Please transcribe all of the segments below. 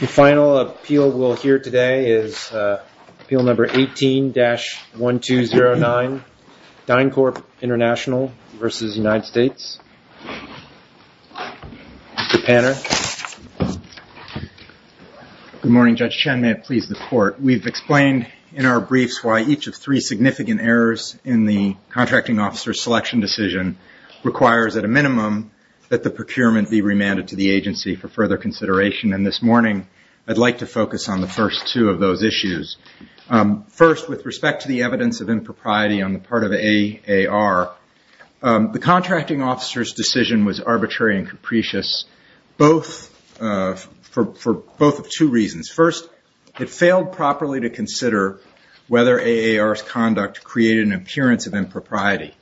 The final appeal we'll hear today is appeal number 18-1209, DynCorp International v. United States. Mr. Panner. Good morning, Judge Chen. May it please the court. We've explained in our briefs why each of three significant errors in the contracting officer's selection decision requires, at a minimum, that the procurement be remanded to the agency for further consideration. This morning, I'd like to focus on the first two of those issues. First, with respect to the evidence of impropriety on the part of AAR, the contracting officer's decision was arbitrary and capricious for both of two reasons. First, it failed properly to consider whether AAR's conduct created an appearance of impropriety.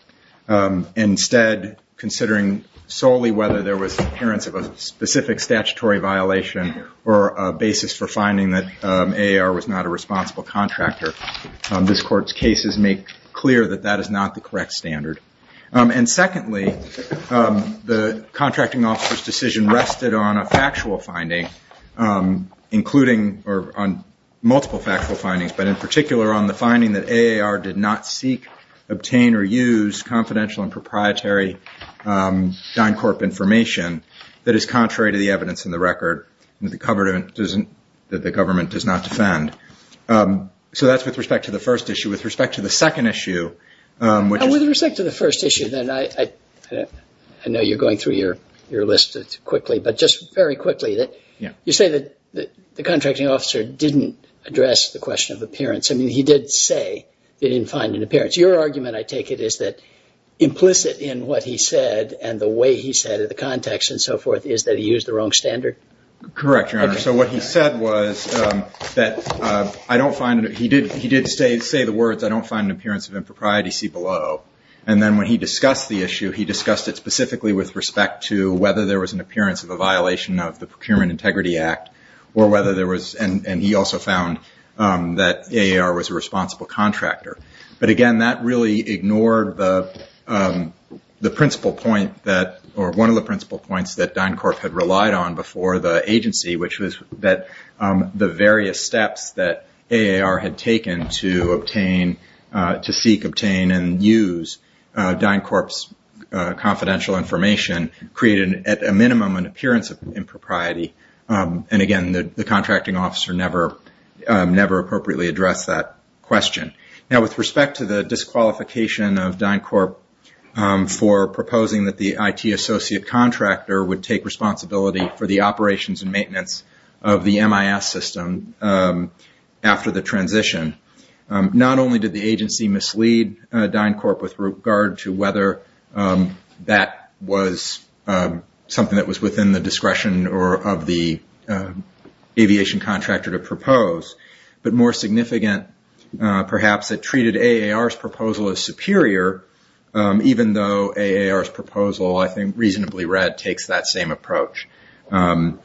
Instead, considering solely whether there was an appearance of a specific statutory violation or a basis for finding that AAR was not a responsible contractor, this court's cases make clear that that is not the correct standard. Secondly, the contracting officer's decision rested on a factual finding, including multiple factual findings, but in particular on the finding that AAR did not seek, obtain, or use confidential and proprietary DynCorp information that is contrary to the evidence in the record that the government does not defend. So that's with respect to the first issue. With respect to the second issue, which is... With respect to the first issue, then, I know you're going through your list quickly, but just very quickly, you say that the contracting officer didn't address the question of appearance. I mean, he did say that he didn't find an appearance. Your argument, I take it, is that implicit in what he said and the way he said it, the context and so forth, is that he used the wrong standard? Correct, Your Honor. So what he said was that I don't find... He did say the words, I don't find an appearance of impropriety, see below. And then when he discussed the issue, he discussed it specifically with respect to whether there was an appearance of a violation of the Procurement Integrity Act or whether there was... And he also found that AAR was a responsible contractor. But again, that really ignored the principal point that... Or one of the principal points that DynCorp had relied on before the agency, which was that the various steps that AAR had taken to obtain... To seek, obtain, and use DynCorp's confidential information created at a minimum an appearance of impropriety. And again, the contracting officer never appropriately addressed that question. Now with respect to the disqualification of DynCorp for proposing that the IT associate contractor would take responsibility for the operations and maintenance of the MIS system after the transition, not only did the agency mislead DynCorp with regard to whether that was something that was within the discretion of the aviation contractor to propose, but more significant, perhaps, it treated AAR's proposal as superior, even though AAR's proposal, I think, reasonably read, takes that same approach. And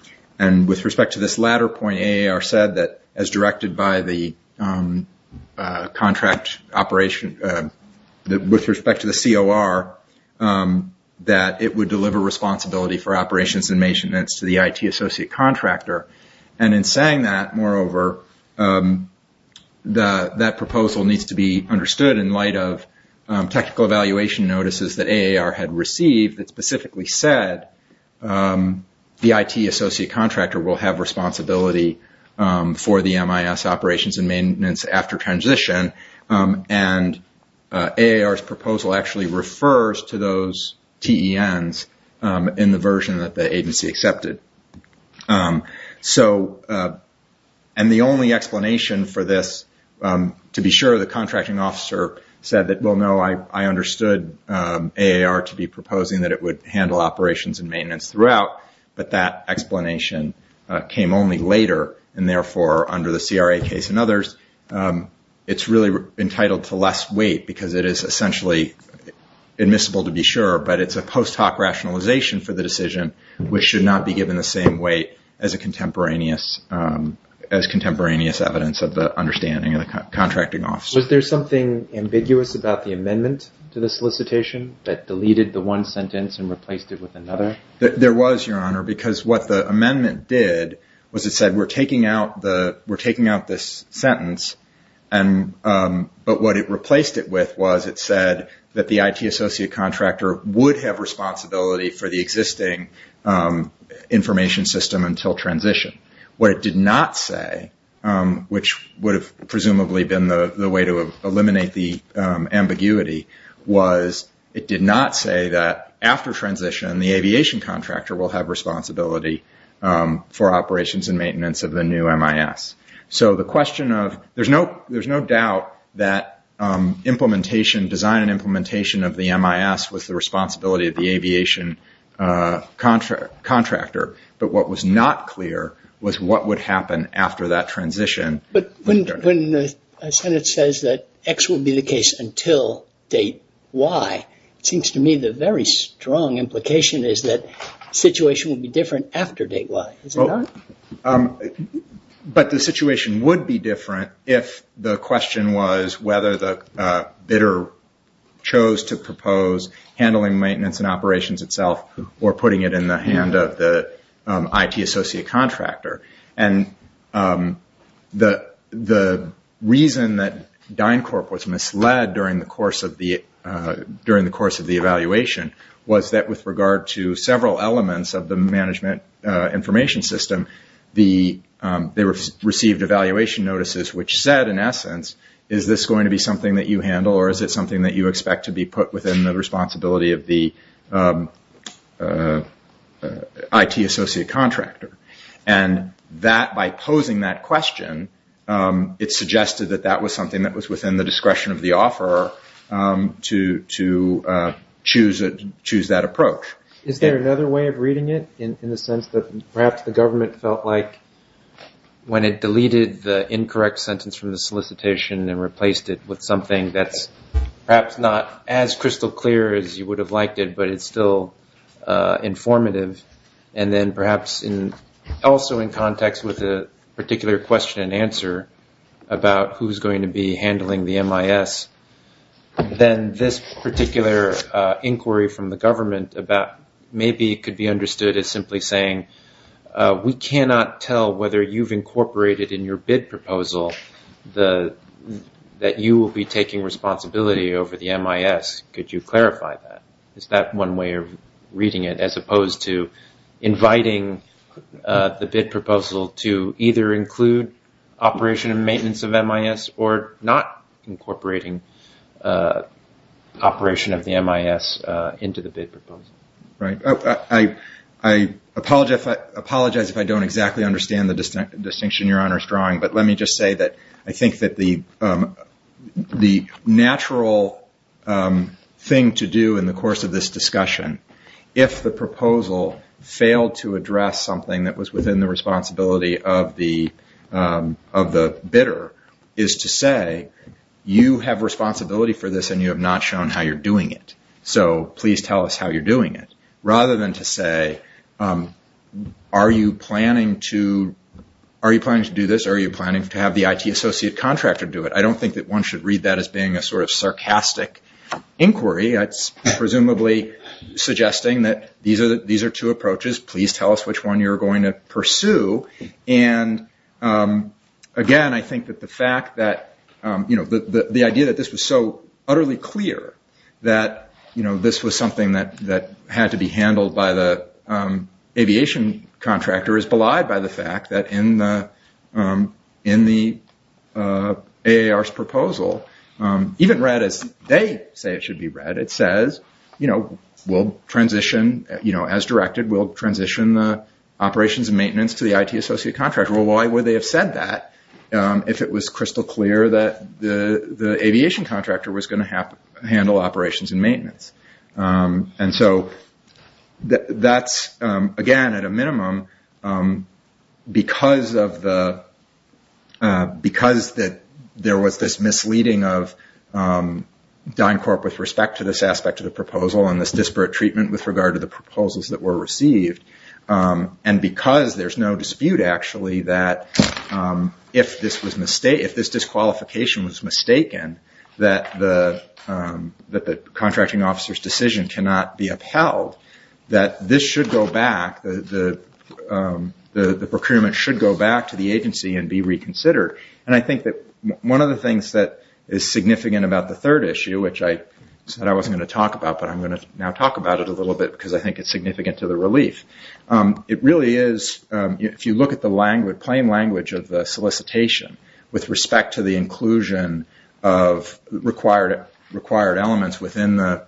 with respect to this latter point, AAR said that, as directed by the contract operation... With respect to the COR, that it would deliver responsibility for operations and maintenance to the IT associate contractor. And in saying that, moreover, that proposal needs to be understood in light of technical evaluation notices that AAR had received that specifically said the IT associate contractor will have responsibility for the MIS operations and maintenance. And AAR's proposal actually refers to those TENs in the version that the agency accepted. And the only explanation for this, to be sure, the contracting officer said that, well, no, I understood AAR to be proposing that it would handle operations and maintenance throughout, but that explanation came only later. And therefore, under the CRA case and others, it's really entitled to less weight because it is essentially admissible to be sure, but it's a post hoc rationalization for the decision, which should not be given the same weight as contemporaneous evidence of the understanding of the contracting officer. Was there something ambiguous about the amendment to the solicitation that deleted the one sentence and replaced it with another? There was, Your Honor, because what the amendment did was it said, we're taking out this sentence and, but what it replaced it with was it said that the IT associate contractor would have responsibility for the existing information system until transition. What it did not say, which would have presumably been the way to eliminate the ambiguity, was it did not say that after transition, the aviation contractor will have responsibility for operations and maintenance. There's no doubt that design and implementation of the MIS was the responsibility of the aviation contractor, but what was not clear was what would happen after that transition. But when the Senate says that X will be the case until date Y, it seems to me the very strong implication is that the situation will be different after date Y, is it not? But the situation would be different if the question was whether the bidder chose to propose handling maintenance and operations itself or putting it in the hand of the IT associate contractor. And the reason that DynCorp was misled during the course of the evaluation was that with regard to several elements of the management information system, they received evaluation notices which said, in essence, is this going to be something that you handle or is it something that you expect to be put within the responsibility of the IT associate contractor? And that, by posing that question, it suggested that that was within the discretion of the offeror to choose that approach. Q Is there another way of reading it in the sense that perhaps the government felt like when it deleted the incorrect sentence from the solicitation and replaced it with something that's perhaps not as crystal clear as you would have liked it, but it's still informative? And then perhaps also in context with a particular question and answer about who's going to be handling the MIS, then this particular inquiry from the government about maybe it could be understood as simply saying, we cannot tell whether you've incorporated in your bid proposal that you will be taking responsibility over the MIS. Could you clarify that? Is that one way of reading it as opposed to inviting the bid proposal to either include operation and maintenance of MIS or not incorporating operation of the MIS into the bid proposal? A I apologize if I don't exactly understand the distinction your Honor is drawing, but let me just say that I think that the natural thing to do in the course of this discussion, if the proposal failed to address something that was within the responsibility of the bidder, is to say, you have responsibility for this and you have not shown how you're doing it, so please tell us how you're doing it. Rather than to say, are you planning to do this? Are you planning to have the IT associate contractor do it? I don't think that one should read that being a sort of sarcastic inquiry. It's presumably suggesting that these are two approaches. Please tell us which one you're going to pursue. And again, I think that the fact that the idea that this was so utterly clear that this was something that had to be handled by the aviation contractor is belied by the fact that in the AAR's proposal, even read as they say it should be read, it says, we'll transition as directed, we'll transition the operations and maintenance to the IT associate contractor. Why would they have said that if it was crystal clear that the aviation contractor was going to handle operations and maintenance? Again, at a minimum, because there was this misleading of DynCorp with respect to this aspect of the proposal and this disparate treatment with regard to the proposals that were received, and because there's no dispute actually that if this disqualification was mistaken, that the contracting officer's decision cannot be upheld, that this should go back, the procurement should go back to the agency and be reconsidered. And I think that one of the things that is significant about the third issue, which I said I wasn't going to talk about, but I'm going to now talk about it a little bit because I think it's significant to the relief. It really is, if you look at the plain language of the solicitation with respect to the inclusion of required elements within the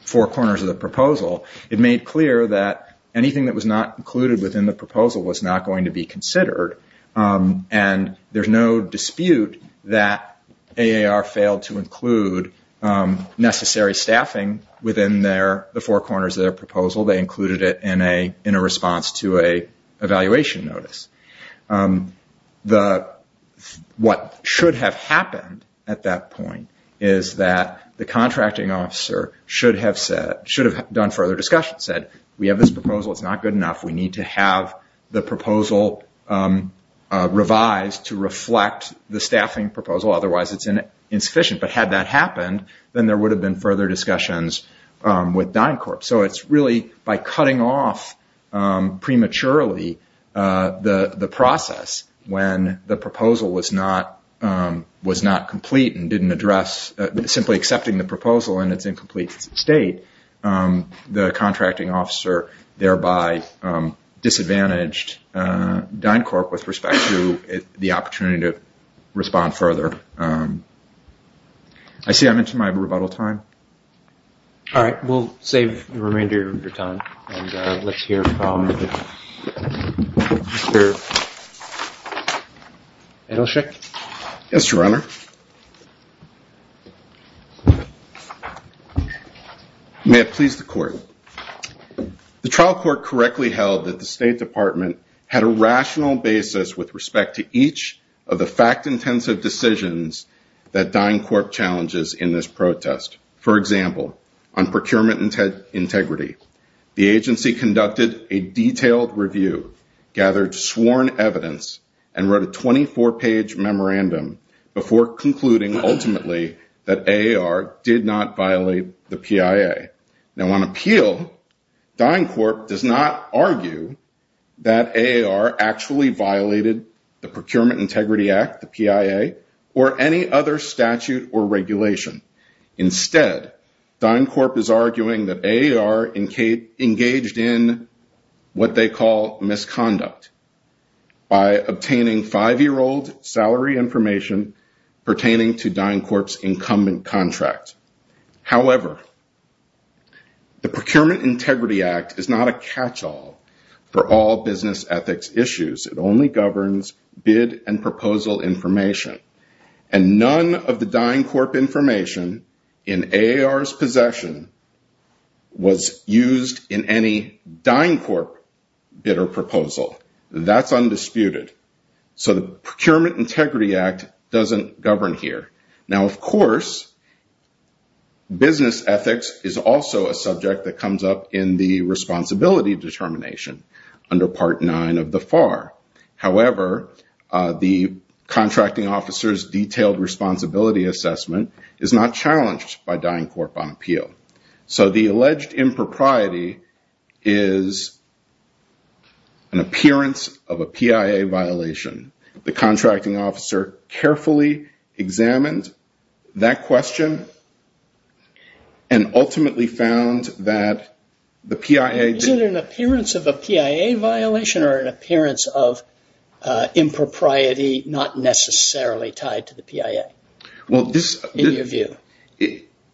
four corners of the proposal, it made clear that anything that was not included within the proposal was not going to be considered and there's no dispute that AAR failed to include necessary staffing within the four corners of the proposal. They included it in a response to an evaluation notice. What should have happened at that point is that the contracting officer should have done further discussion, said, we have this proposal, it's not good enough, we need to have the proposal revised to reflect the staffing proposal, otherwise it's insufficient. But had that happened, then there would have been further discussions with DynCorp. So it's really by cutting off prematurely the process when the proposal was not complete and didn't address, simply accepting the proposal in its incomplete state, the contracting officer thereby disadvantaged DynCorp with respect to the opportunity to respond further. I see I mentioned my rebuttal time. All right, we'll save the remainder of your time and let's hear from Mr. Edelsheik. Yes, Your Honor. May it please the court. The trial court correctly held that the State Department had a rational basis with respect to each of the fact-intensive decisions that DynCorp challenges in this protest. For example, on procurement integrity, the agency conducted a detailed review, gathered sworn evidence, and wrote a 24-page memorandum before concluding that AAR did not violate the PIA. Now on appeal, DynCorp does not argue that AAR actually violated the Procurement Integrity Act, the PIA, or any other statute or regulation. Instead, DynCorp is arguing that AAR engaged in what they call misconduct by obtaining five-year-old information pertaining to DynCorp's incumbent contract. However, the Procurement Integrity Act is not a catch-all for all business ethics issues. It only governs bid and proposal information, and none of the DynCorp information in AAR's possession was used in any DynCorp bid or proposal. That's undisputed. So the Procurement Integrity Act doesn't govern here. Now, of course, business ethics is also a subject that comes up in the responsibility determination under Part 9 of the FAR. However, the contracting officer's detailed responsibility assessment is not challenged by DynCorp on appeal. So the alleged impropriety is an appearance of a PIA violation. The contracting officer carefully examined that question and ultimately found that the PIA... Is it an appearance of a PIA violation or an appearance of impropriety not necessarily tied to the PIA, in your view?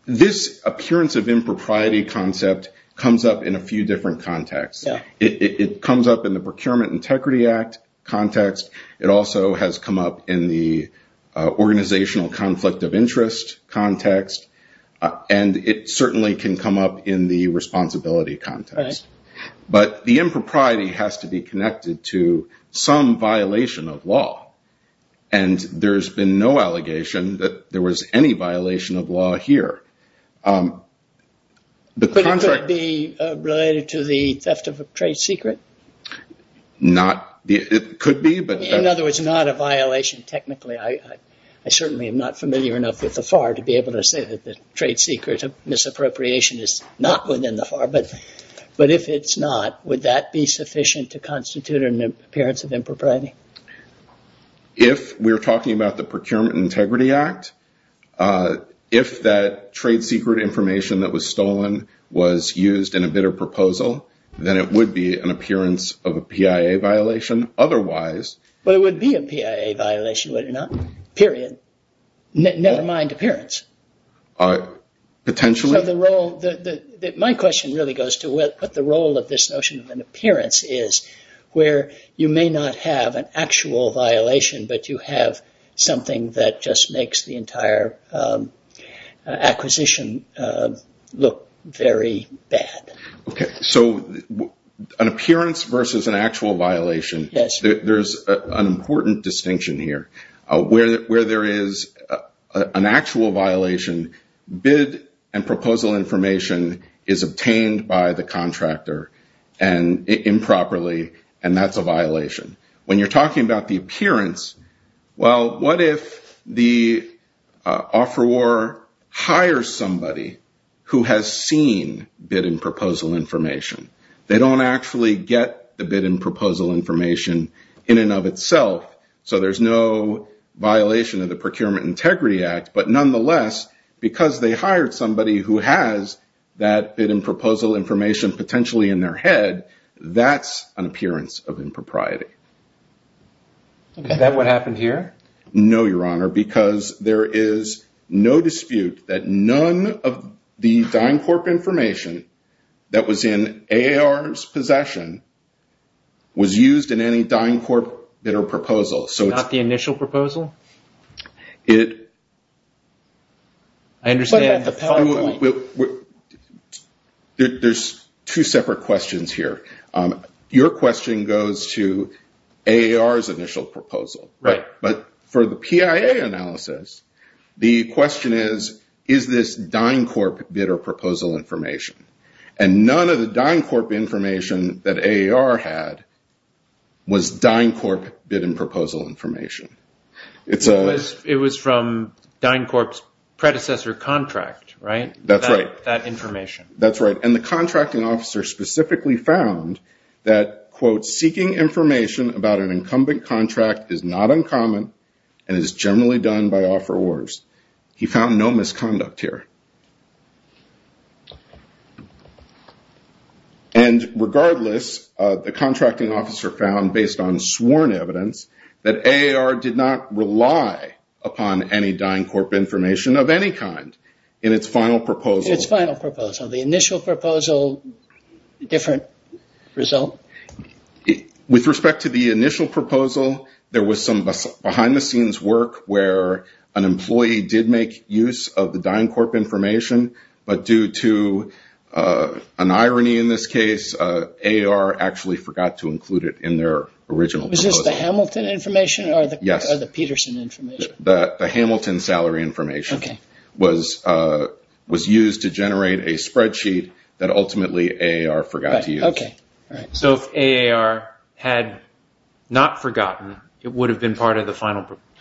This appearance of impropriety concept comes up in a few different contexts. It comes up in the Procurement Integrity Act context. It also has come up in the organizational conflict of interest context. And it certainly can come up in the responsibility context. But the impropriety has to be connected to some violation of law. And there's been no allegation that there was any violation of law here. But it could be related to the theft of a trade secret? Not. It could be, but... In other words, not a violation technically. I certainly am not familiar enough with the FAR to be able to say that the trade secret of misappropriation is not within the FAR. But if it's not, would that be sufficient to constitute an appearance of impropriety? If we're talking about the Procurement Integrity Act, if that trade secret information that was stolen was used in a bidder proposal, then it would be an appearance of a PIA violation. Otherwise... But it would be a PIA violation, would it not? Period. Never mind appearance. Potentially. My question really goes to what the role of this notion of an appearance is, where you may not have an actual violation, but you have something that just makes the entire acquisition look very bad. Okay. So an appearance versus an actual violation, there's an important distinction here. Where there is an actual violation, bid and proposal and that's a violation. When you're talking about the appearance, well, what if the offeror hires somebody who has seen bid and proposal information? They don't actually get the bid and proposal information in and of itself. So there's no violation of the Procurement Integrity Act. But nonetheless, because they hired somebody who has that bid and proposal information potentially in their head, that's an appearance of impropriety. Is that what happened here? No, Your Honor, because there is no dispute that none of the DynCorp information that was in AAR's possession was used in any DynCorp bidder separate questions here. Your question goes to AAR's initial proposal. But for the PIA analysis, the question is, is this DynCorp bidder proposal information? And none of the DynCorp information that AAR had was DynCorp bid and proposal information. It was from DynCorp's predecessor contract, right? That's right. That information. That's right. And the contracting officer specifically found that, quote, seeking information about an incumbent contract is not uncommon and is generally done by offerors. He found no misconduct here. And regardless, the contracting officer found based on sworn evidence that AAR did not rely upon any DynCorp information of any kind in its final proposal. Its final proposal. The initial proposal, different result? With respect to the initial proposal, there was some behind-the-scenes work where an employee did make use of the DynCorp information, but due to an irony in this case, AAR actually forgot to include it in their original proposal. Was this the Hamilton information or the Peterson information? The Hamilton salary information was used to generate a spreadsheet that ultimately AAR forgot to use. So if AAR had not forgotten, it would have been part of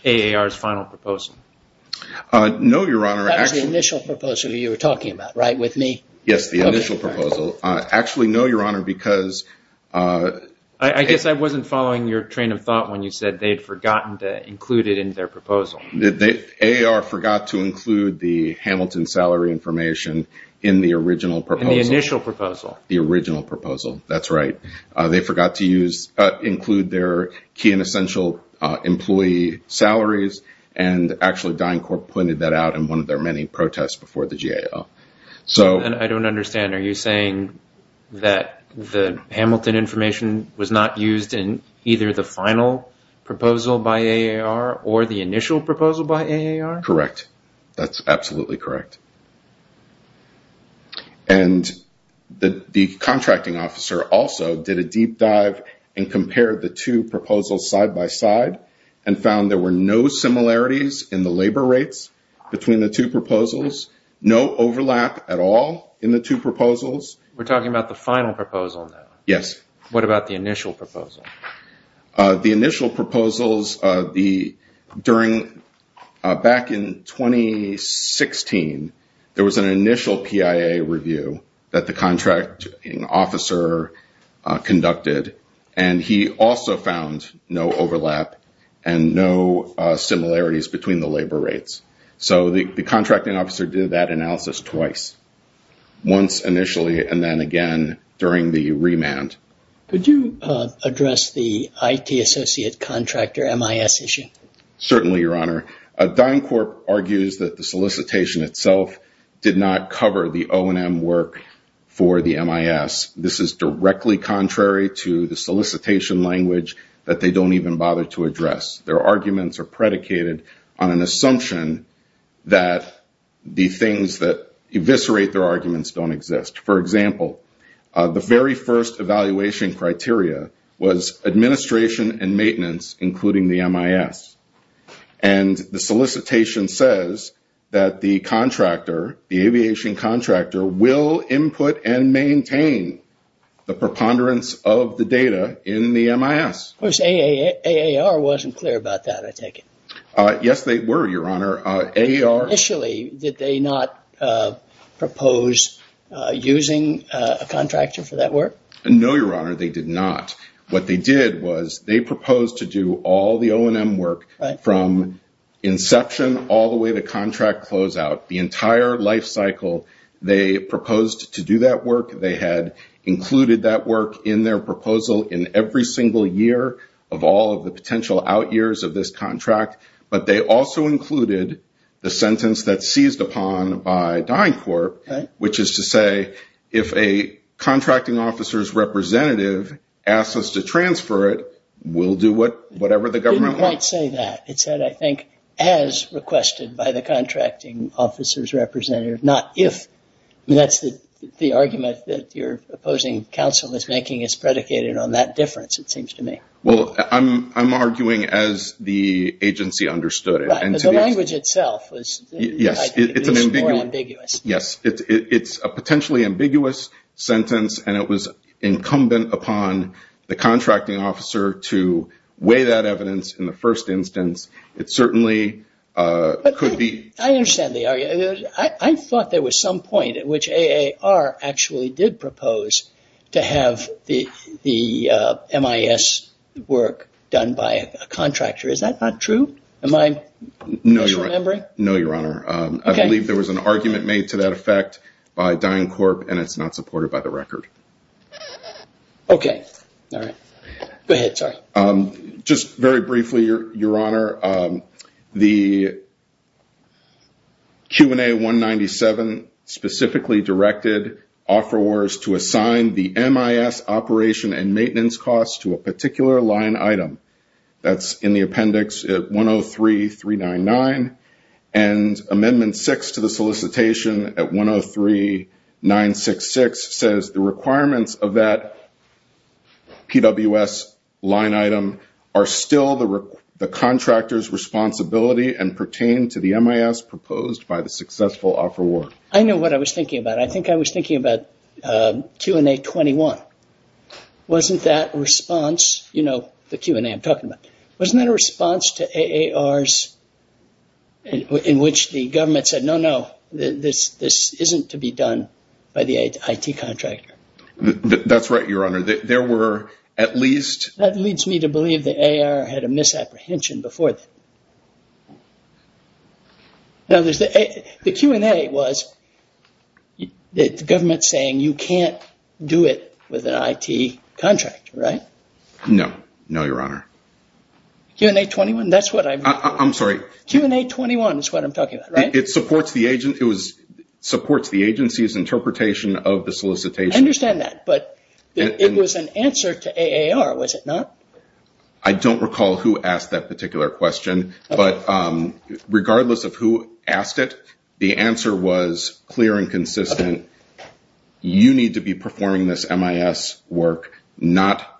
AAR's final proposal? No, Your Honor. That was the initial proposal you were talking about, right, with me? Yes, the initial proposal. Actually, no, Your Honor, because... I guess I wasn't following your train of thought when you said they'd forgotten to AAR forgot to include the Hamilton salary information in the original proposal. In the initial proposal. The original proposal, that's right. They forgot to include their key and essential employee salaries, and actually DynCorp pointed that out in one of their many protests before the GAO. I don't understand. Are you saying that the Hamilton information was not used in either the final proposal by AAR or the initial proposal by AAR? Correct. That's absolutely correct. And the contracting officer also did a deep dive and compared the two proposals side by side and found there were no similarities in the labor rates between the two proposals, no overlap at all in the two proposals. We're talking about the final proposal now? Yes. What about the initial proposal? The initial proposals, back in 2016, there was an initial PIA review that the contracting officer conducted, and he also found no overlap and no similarities between the labor rates. So the contracting officer did that analysis twice, once initially and then again during the remand. Could you address the IT associate contractor MIS issue? Certainly, Your Honor. DynCorp argues that the solicitation itself did not cover the O&M work for the MIS. This is directly contrary to the solicitation language that they don't even bother to address. Their arguments are predicated on an assumption that the things that eviscerate their arguments don't exist. For example, the very first evaluation criteria was administration and maintenance, including the MIS. And the solicitation says that the contractor, the aviation contractor, will input and maintain the preponderance of the data in the MIS. Of course, AAR wasn't clear about that, I take it? Yes, they were, Your Honor. Initially, did they not propose using a contractor for that work? No, Your Honor, they did not. What they did was they proposed to do all the O&M work from inception all the way to contract closeout. The entire life cycle, they proposed to do that work. They had included that work in their proposal in every single year of all of the sentence that's seized upon by DynCorp, which is to say, if a contracting officer's representative asks us to transfer it, we'll do whatever the government wants. It didn't quite say that. It said, I think, as requested by the contracting officer's representative, not if. That's the argument that your opposing counsel is making. It's predicated on that difference, it seems to me. Well, I'm arguing as the agency understood it. The language itself was more ambiguous. Yes. It's a potentially ambiguous sentence and it was incumbent upon the contracting officer to weigh that evidence in the first instance. It certainly could be... I understand the argument. I thought there was some point at which AAR actually did propose to have the MIS work done by a contractor. Is that not true? Am I misremembering? No, your honor. I believe there was an argument made to that effect by DynCorp and it's not supported by the record. Okay. All right. Go ahead. Sorry. Just very briefly, your honor. The Q&A 197 specifically directed offerors to assign the MIS operation and maintenance costs to a particular line item. That's in the appendix at 103-399. Amendment six to the solicitation at 103-966 says the still the contractor's responsibility and pertain to the MIS proposed by the successful offeror. I know what I was thinking about. I think I was thinking about Q&A 21. Wasn't that response, the Q&A I'm talking about, wasn't that a response to AARs in which the government said, no, no, this isn't to be done by the IT contractor? That's right, your honor. There were at least... That leads me to believe that AAR had a misapprehension before that. Now, the Q&A was the government saying you can't do it with an IT contractor, right? No. No, your honor. Q&A 21, that's what I'm... I'm sorry. Q&A 21 is what I'm talking about, right? It supports the agency's interpretation of the solicitation. I understand that, but it was an answer to AAR, was it not? I don't recall who asked that particular question, but regardless of who asked it, the answer was clear and consistent. You need to be performing this MIS work. The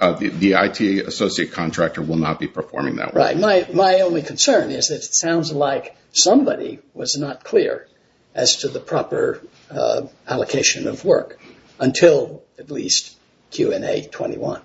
IT associate contractor will not be performing that work. Right. My only concern is that it sounds like somebody was not clear as to the proper allocation of work until at least Q&A 21.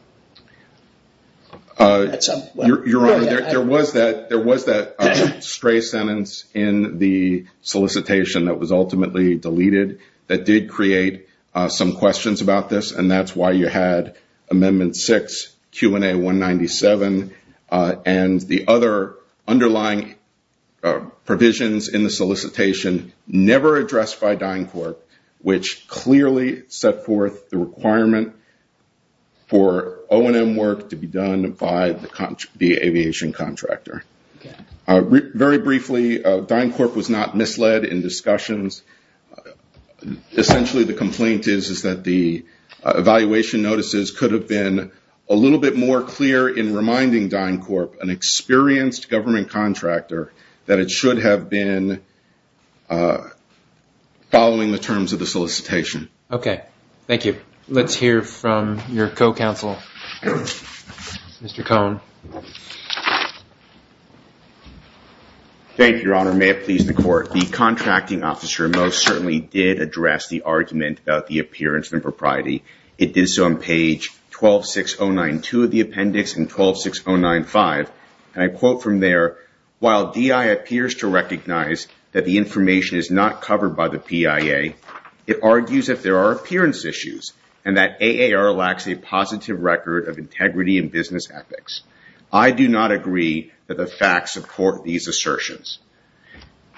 Your honor, there was that stray sentence in the solicitation that was ultimately deleted that did create some questions about this, and that's why you had Amendment 6, Q&A 197, and the other underlying provisions in the solicitation never addressed by DynCorp, which clearly set forth the requirement for O&M work to be done by the aviation contractor. Very briefly, DynCorp was not misled in discussions. Essentially, the complaint is that the evaluation notices could have been a little bit more clear in reminding DynCorp, an experienced government contractor, that it should have been following the terms of the solicitation. Okay. Thank you. Let's hear from your co-counsel, Mr. Cohn. Thank you, your honor. May it please the court. The contracting officer most certainly did address the argument about the appearance and propriety. It is on page 126092 of the appendix and 126095, and I quote from there, while DI appears to recognize that the information is not covered by the PIA, it argues that there are appearance issues and that AAR lacks a positive record of integrity and business ethics. I do not agree that the facts support these assertions.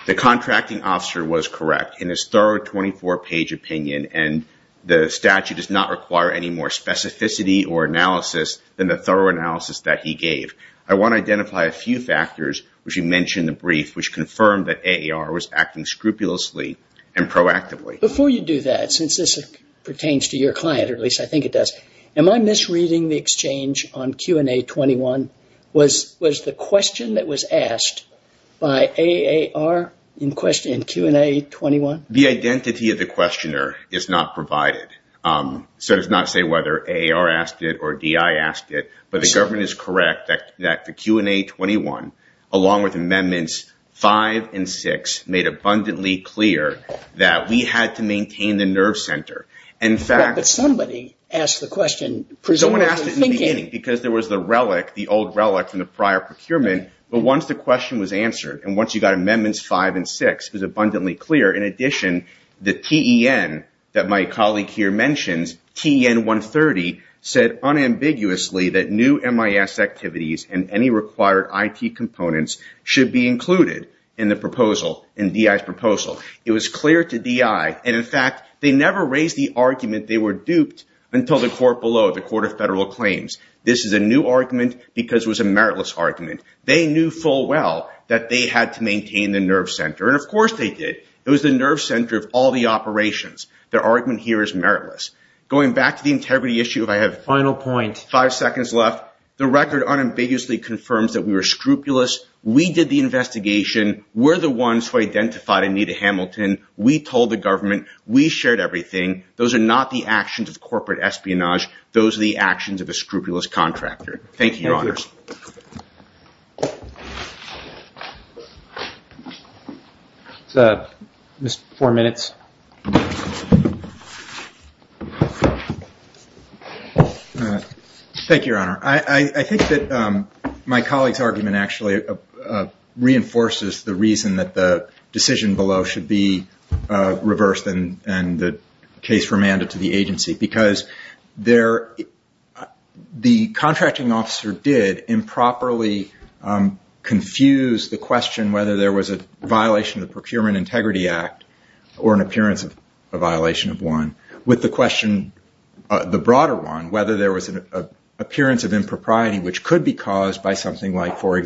The contracting officer was correct in his thorough 24-page opinion, and the statute does not require any more specificity or analysis than the thorough analysis that he gave. I want to identify a few factors, which you mentioned in the brief, which confirmed that AAR was acting scrupulously and proactively. Before you do that, since this pertains to your client, or at least I think it does, am I misreading the exchange on Q&A 21? Was the question that was asked by AAR in Q&A 21? The identity of the questioner is not provided, so it does not say whether AAR asked it or DI asked it, but the government is correct that the Q&A 21, along with amendments 5 and 6, made abundantly clear that we had to maintain the nerve center. But somebody asked the question. Someone asked it in the beginning, because there was the relic, the old relic from the prior procurement, but once the question was answered and once you got amendments 5 and 6, it was abundantly clear. In addition, the TEN that my colleague here mentions, TEN 130, said unambiguously that new MIS activities and any required IT components should be included in the proposal, in DI's argument they were duped until the court below, the Court of Federal Claims. This is a new argument, because it was a meritless argument. They knew full well that they had to maintain the nerve center, and of course they did. It was the nerve center of all the operations. Their argument here is meritless. Going back to the integrity issue, if I have five seconds left, the record unambiguously confirms that we were scrupulous, we did the investigation, we're the ones who identified Anita Hamilton, we told the government, we shared everything. Those are not the actions of corporate espionage. Those are the actions of a scrupulous contractor. Thank you, Your Honors. Mr. Four minutes. Thank you, Your Honor. I think that my colleague's argument actually reinforces the reason that the decision below should be reversed and the case remanded to the agency, because the contracting officer did improperly confuse the question whether there was a violation of the Procurement Integrity Act or an appearance of a violation of one, with the question, the broader one, whether there was an appearance of impropriety which could be caused by something like, for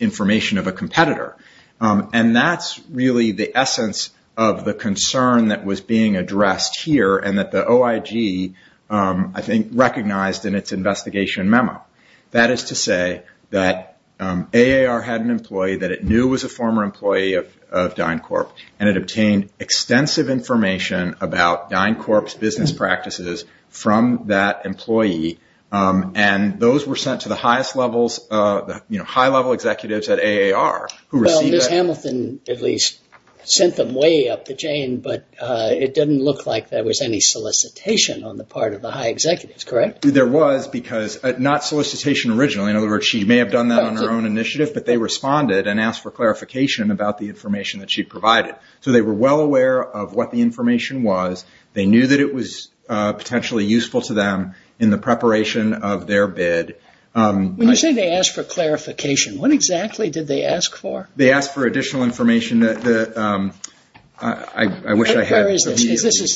information of a competitor. That's really the essence of the concern that was being addressed here and that the OIG, I think, recognized in its investigation memo. That is to say that AAR had an employee that it knew was a former employee of DynCorp, and it obtained extensive information about DynCorp's business practices from that employee, and those were sent to the highest levels, the high-level executives at AAR. Ms. Hamilton, at least, sent them way up the chain, but it didn't look like there was any solicitation on the part of the high executives, correct? There was, because not solicitation originally. In other words, she may have done that on her own initiative, but they responded and asked for clarification about the information that she provided. They were well aware of what the information was. They knew that it was for clarification. What exactly did they ask for? They asked for additional information. This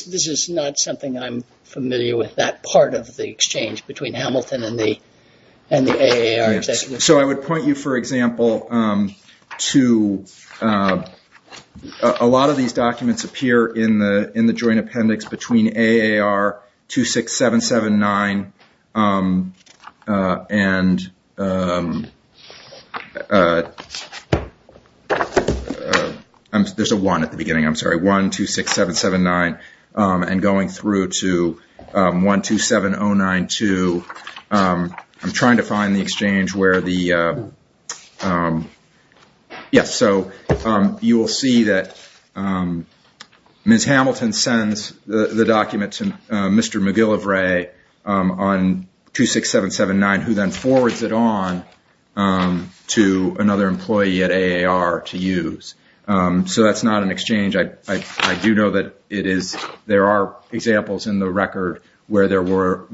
is not something I'm familiar with, that part of the exchange between Hamilton and the AAR executives. I would point you, for example, to a lot of these documents appear in the joint appendix between AAR 26779 and going through to 127092. You will see that Ms. Hamilton sends the document to Mr. McGillivray on 26779, who then forwards it on to another employee at AAR to use. That's not an exchange. I do know that there are examples in the record where there were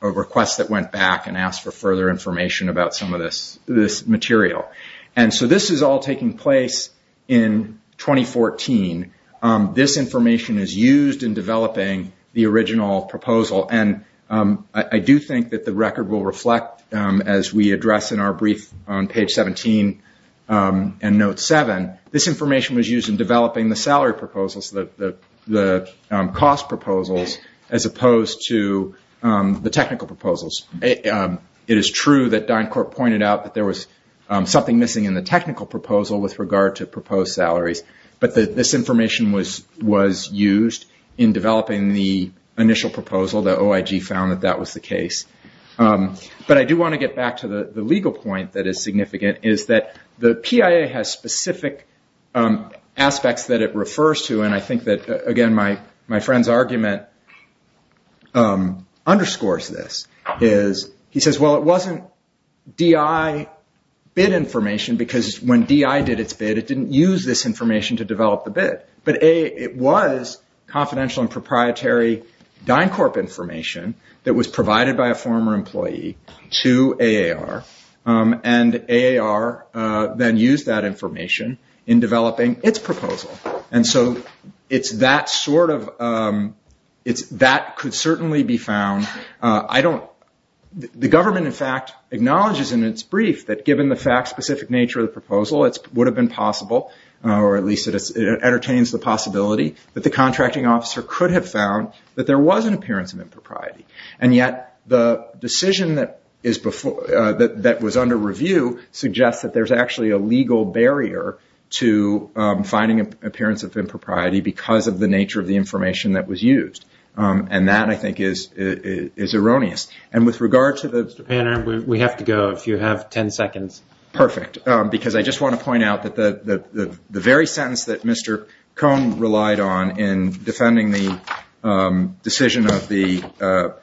requests that went back and asked for further information about some of this material. This is all taking place in 2014. This information is used in developing the original proposal. I do think that the record will reflect, as we address in our brief on page 17 and note 7, this information was used in developing the salary proposals, the cost proposals, as opposed to the technical proposals. It is true that DynCorp pointed out that there was something missing in the technical proposal with regard to proposed salaries, but this information was used in developing the initial proposal. The OIG found that that was the case. But I do want to get back to the legal point that is significant, is that the PIA has specific aspects that it refers to, and I think that, again, my friend's argument underscores this. He says, well, it wasn't DI bid information, because when DI did its bid, it didn't use this information to develop the bid. But A, it was confidential and proprietary DynCorp information that was provided by a former employee to AAR, and AAR then used that information in developing its proposal. And so that could certainly be found. The government, in fact, acknowledges in its brief that given the fact-specific nature of the proposal, it would have been possible, or at least it entertains the possibility, that the contracting officer could have found that there was an appearance of impropriety. And yet the decision that was under review suggests that there's actually a legal barrier to finding an appearance of impropriety because of the nature of the information that was used. And that, I think, is erroneous. And with regard to the Mr. Panner, we have to go. You have 10 seconds. Perfect. Because I just want to point out that the very sentence that Mr. Cohn relied on in defending the decision of the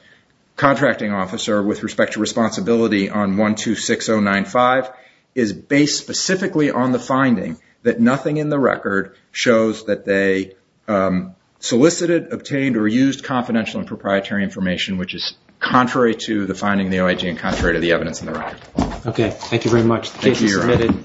contracting officer with respect to responsibility on 126095 is based specifically on the finding that nothing in the record shows that they solicited, obtained, or used confidential and proprietary information, which is contrary to the finding of the OIG and contrary to the evidence in the record. Okay, thank you very much. The case is submitted.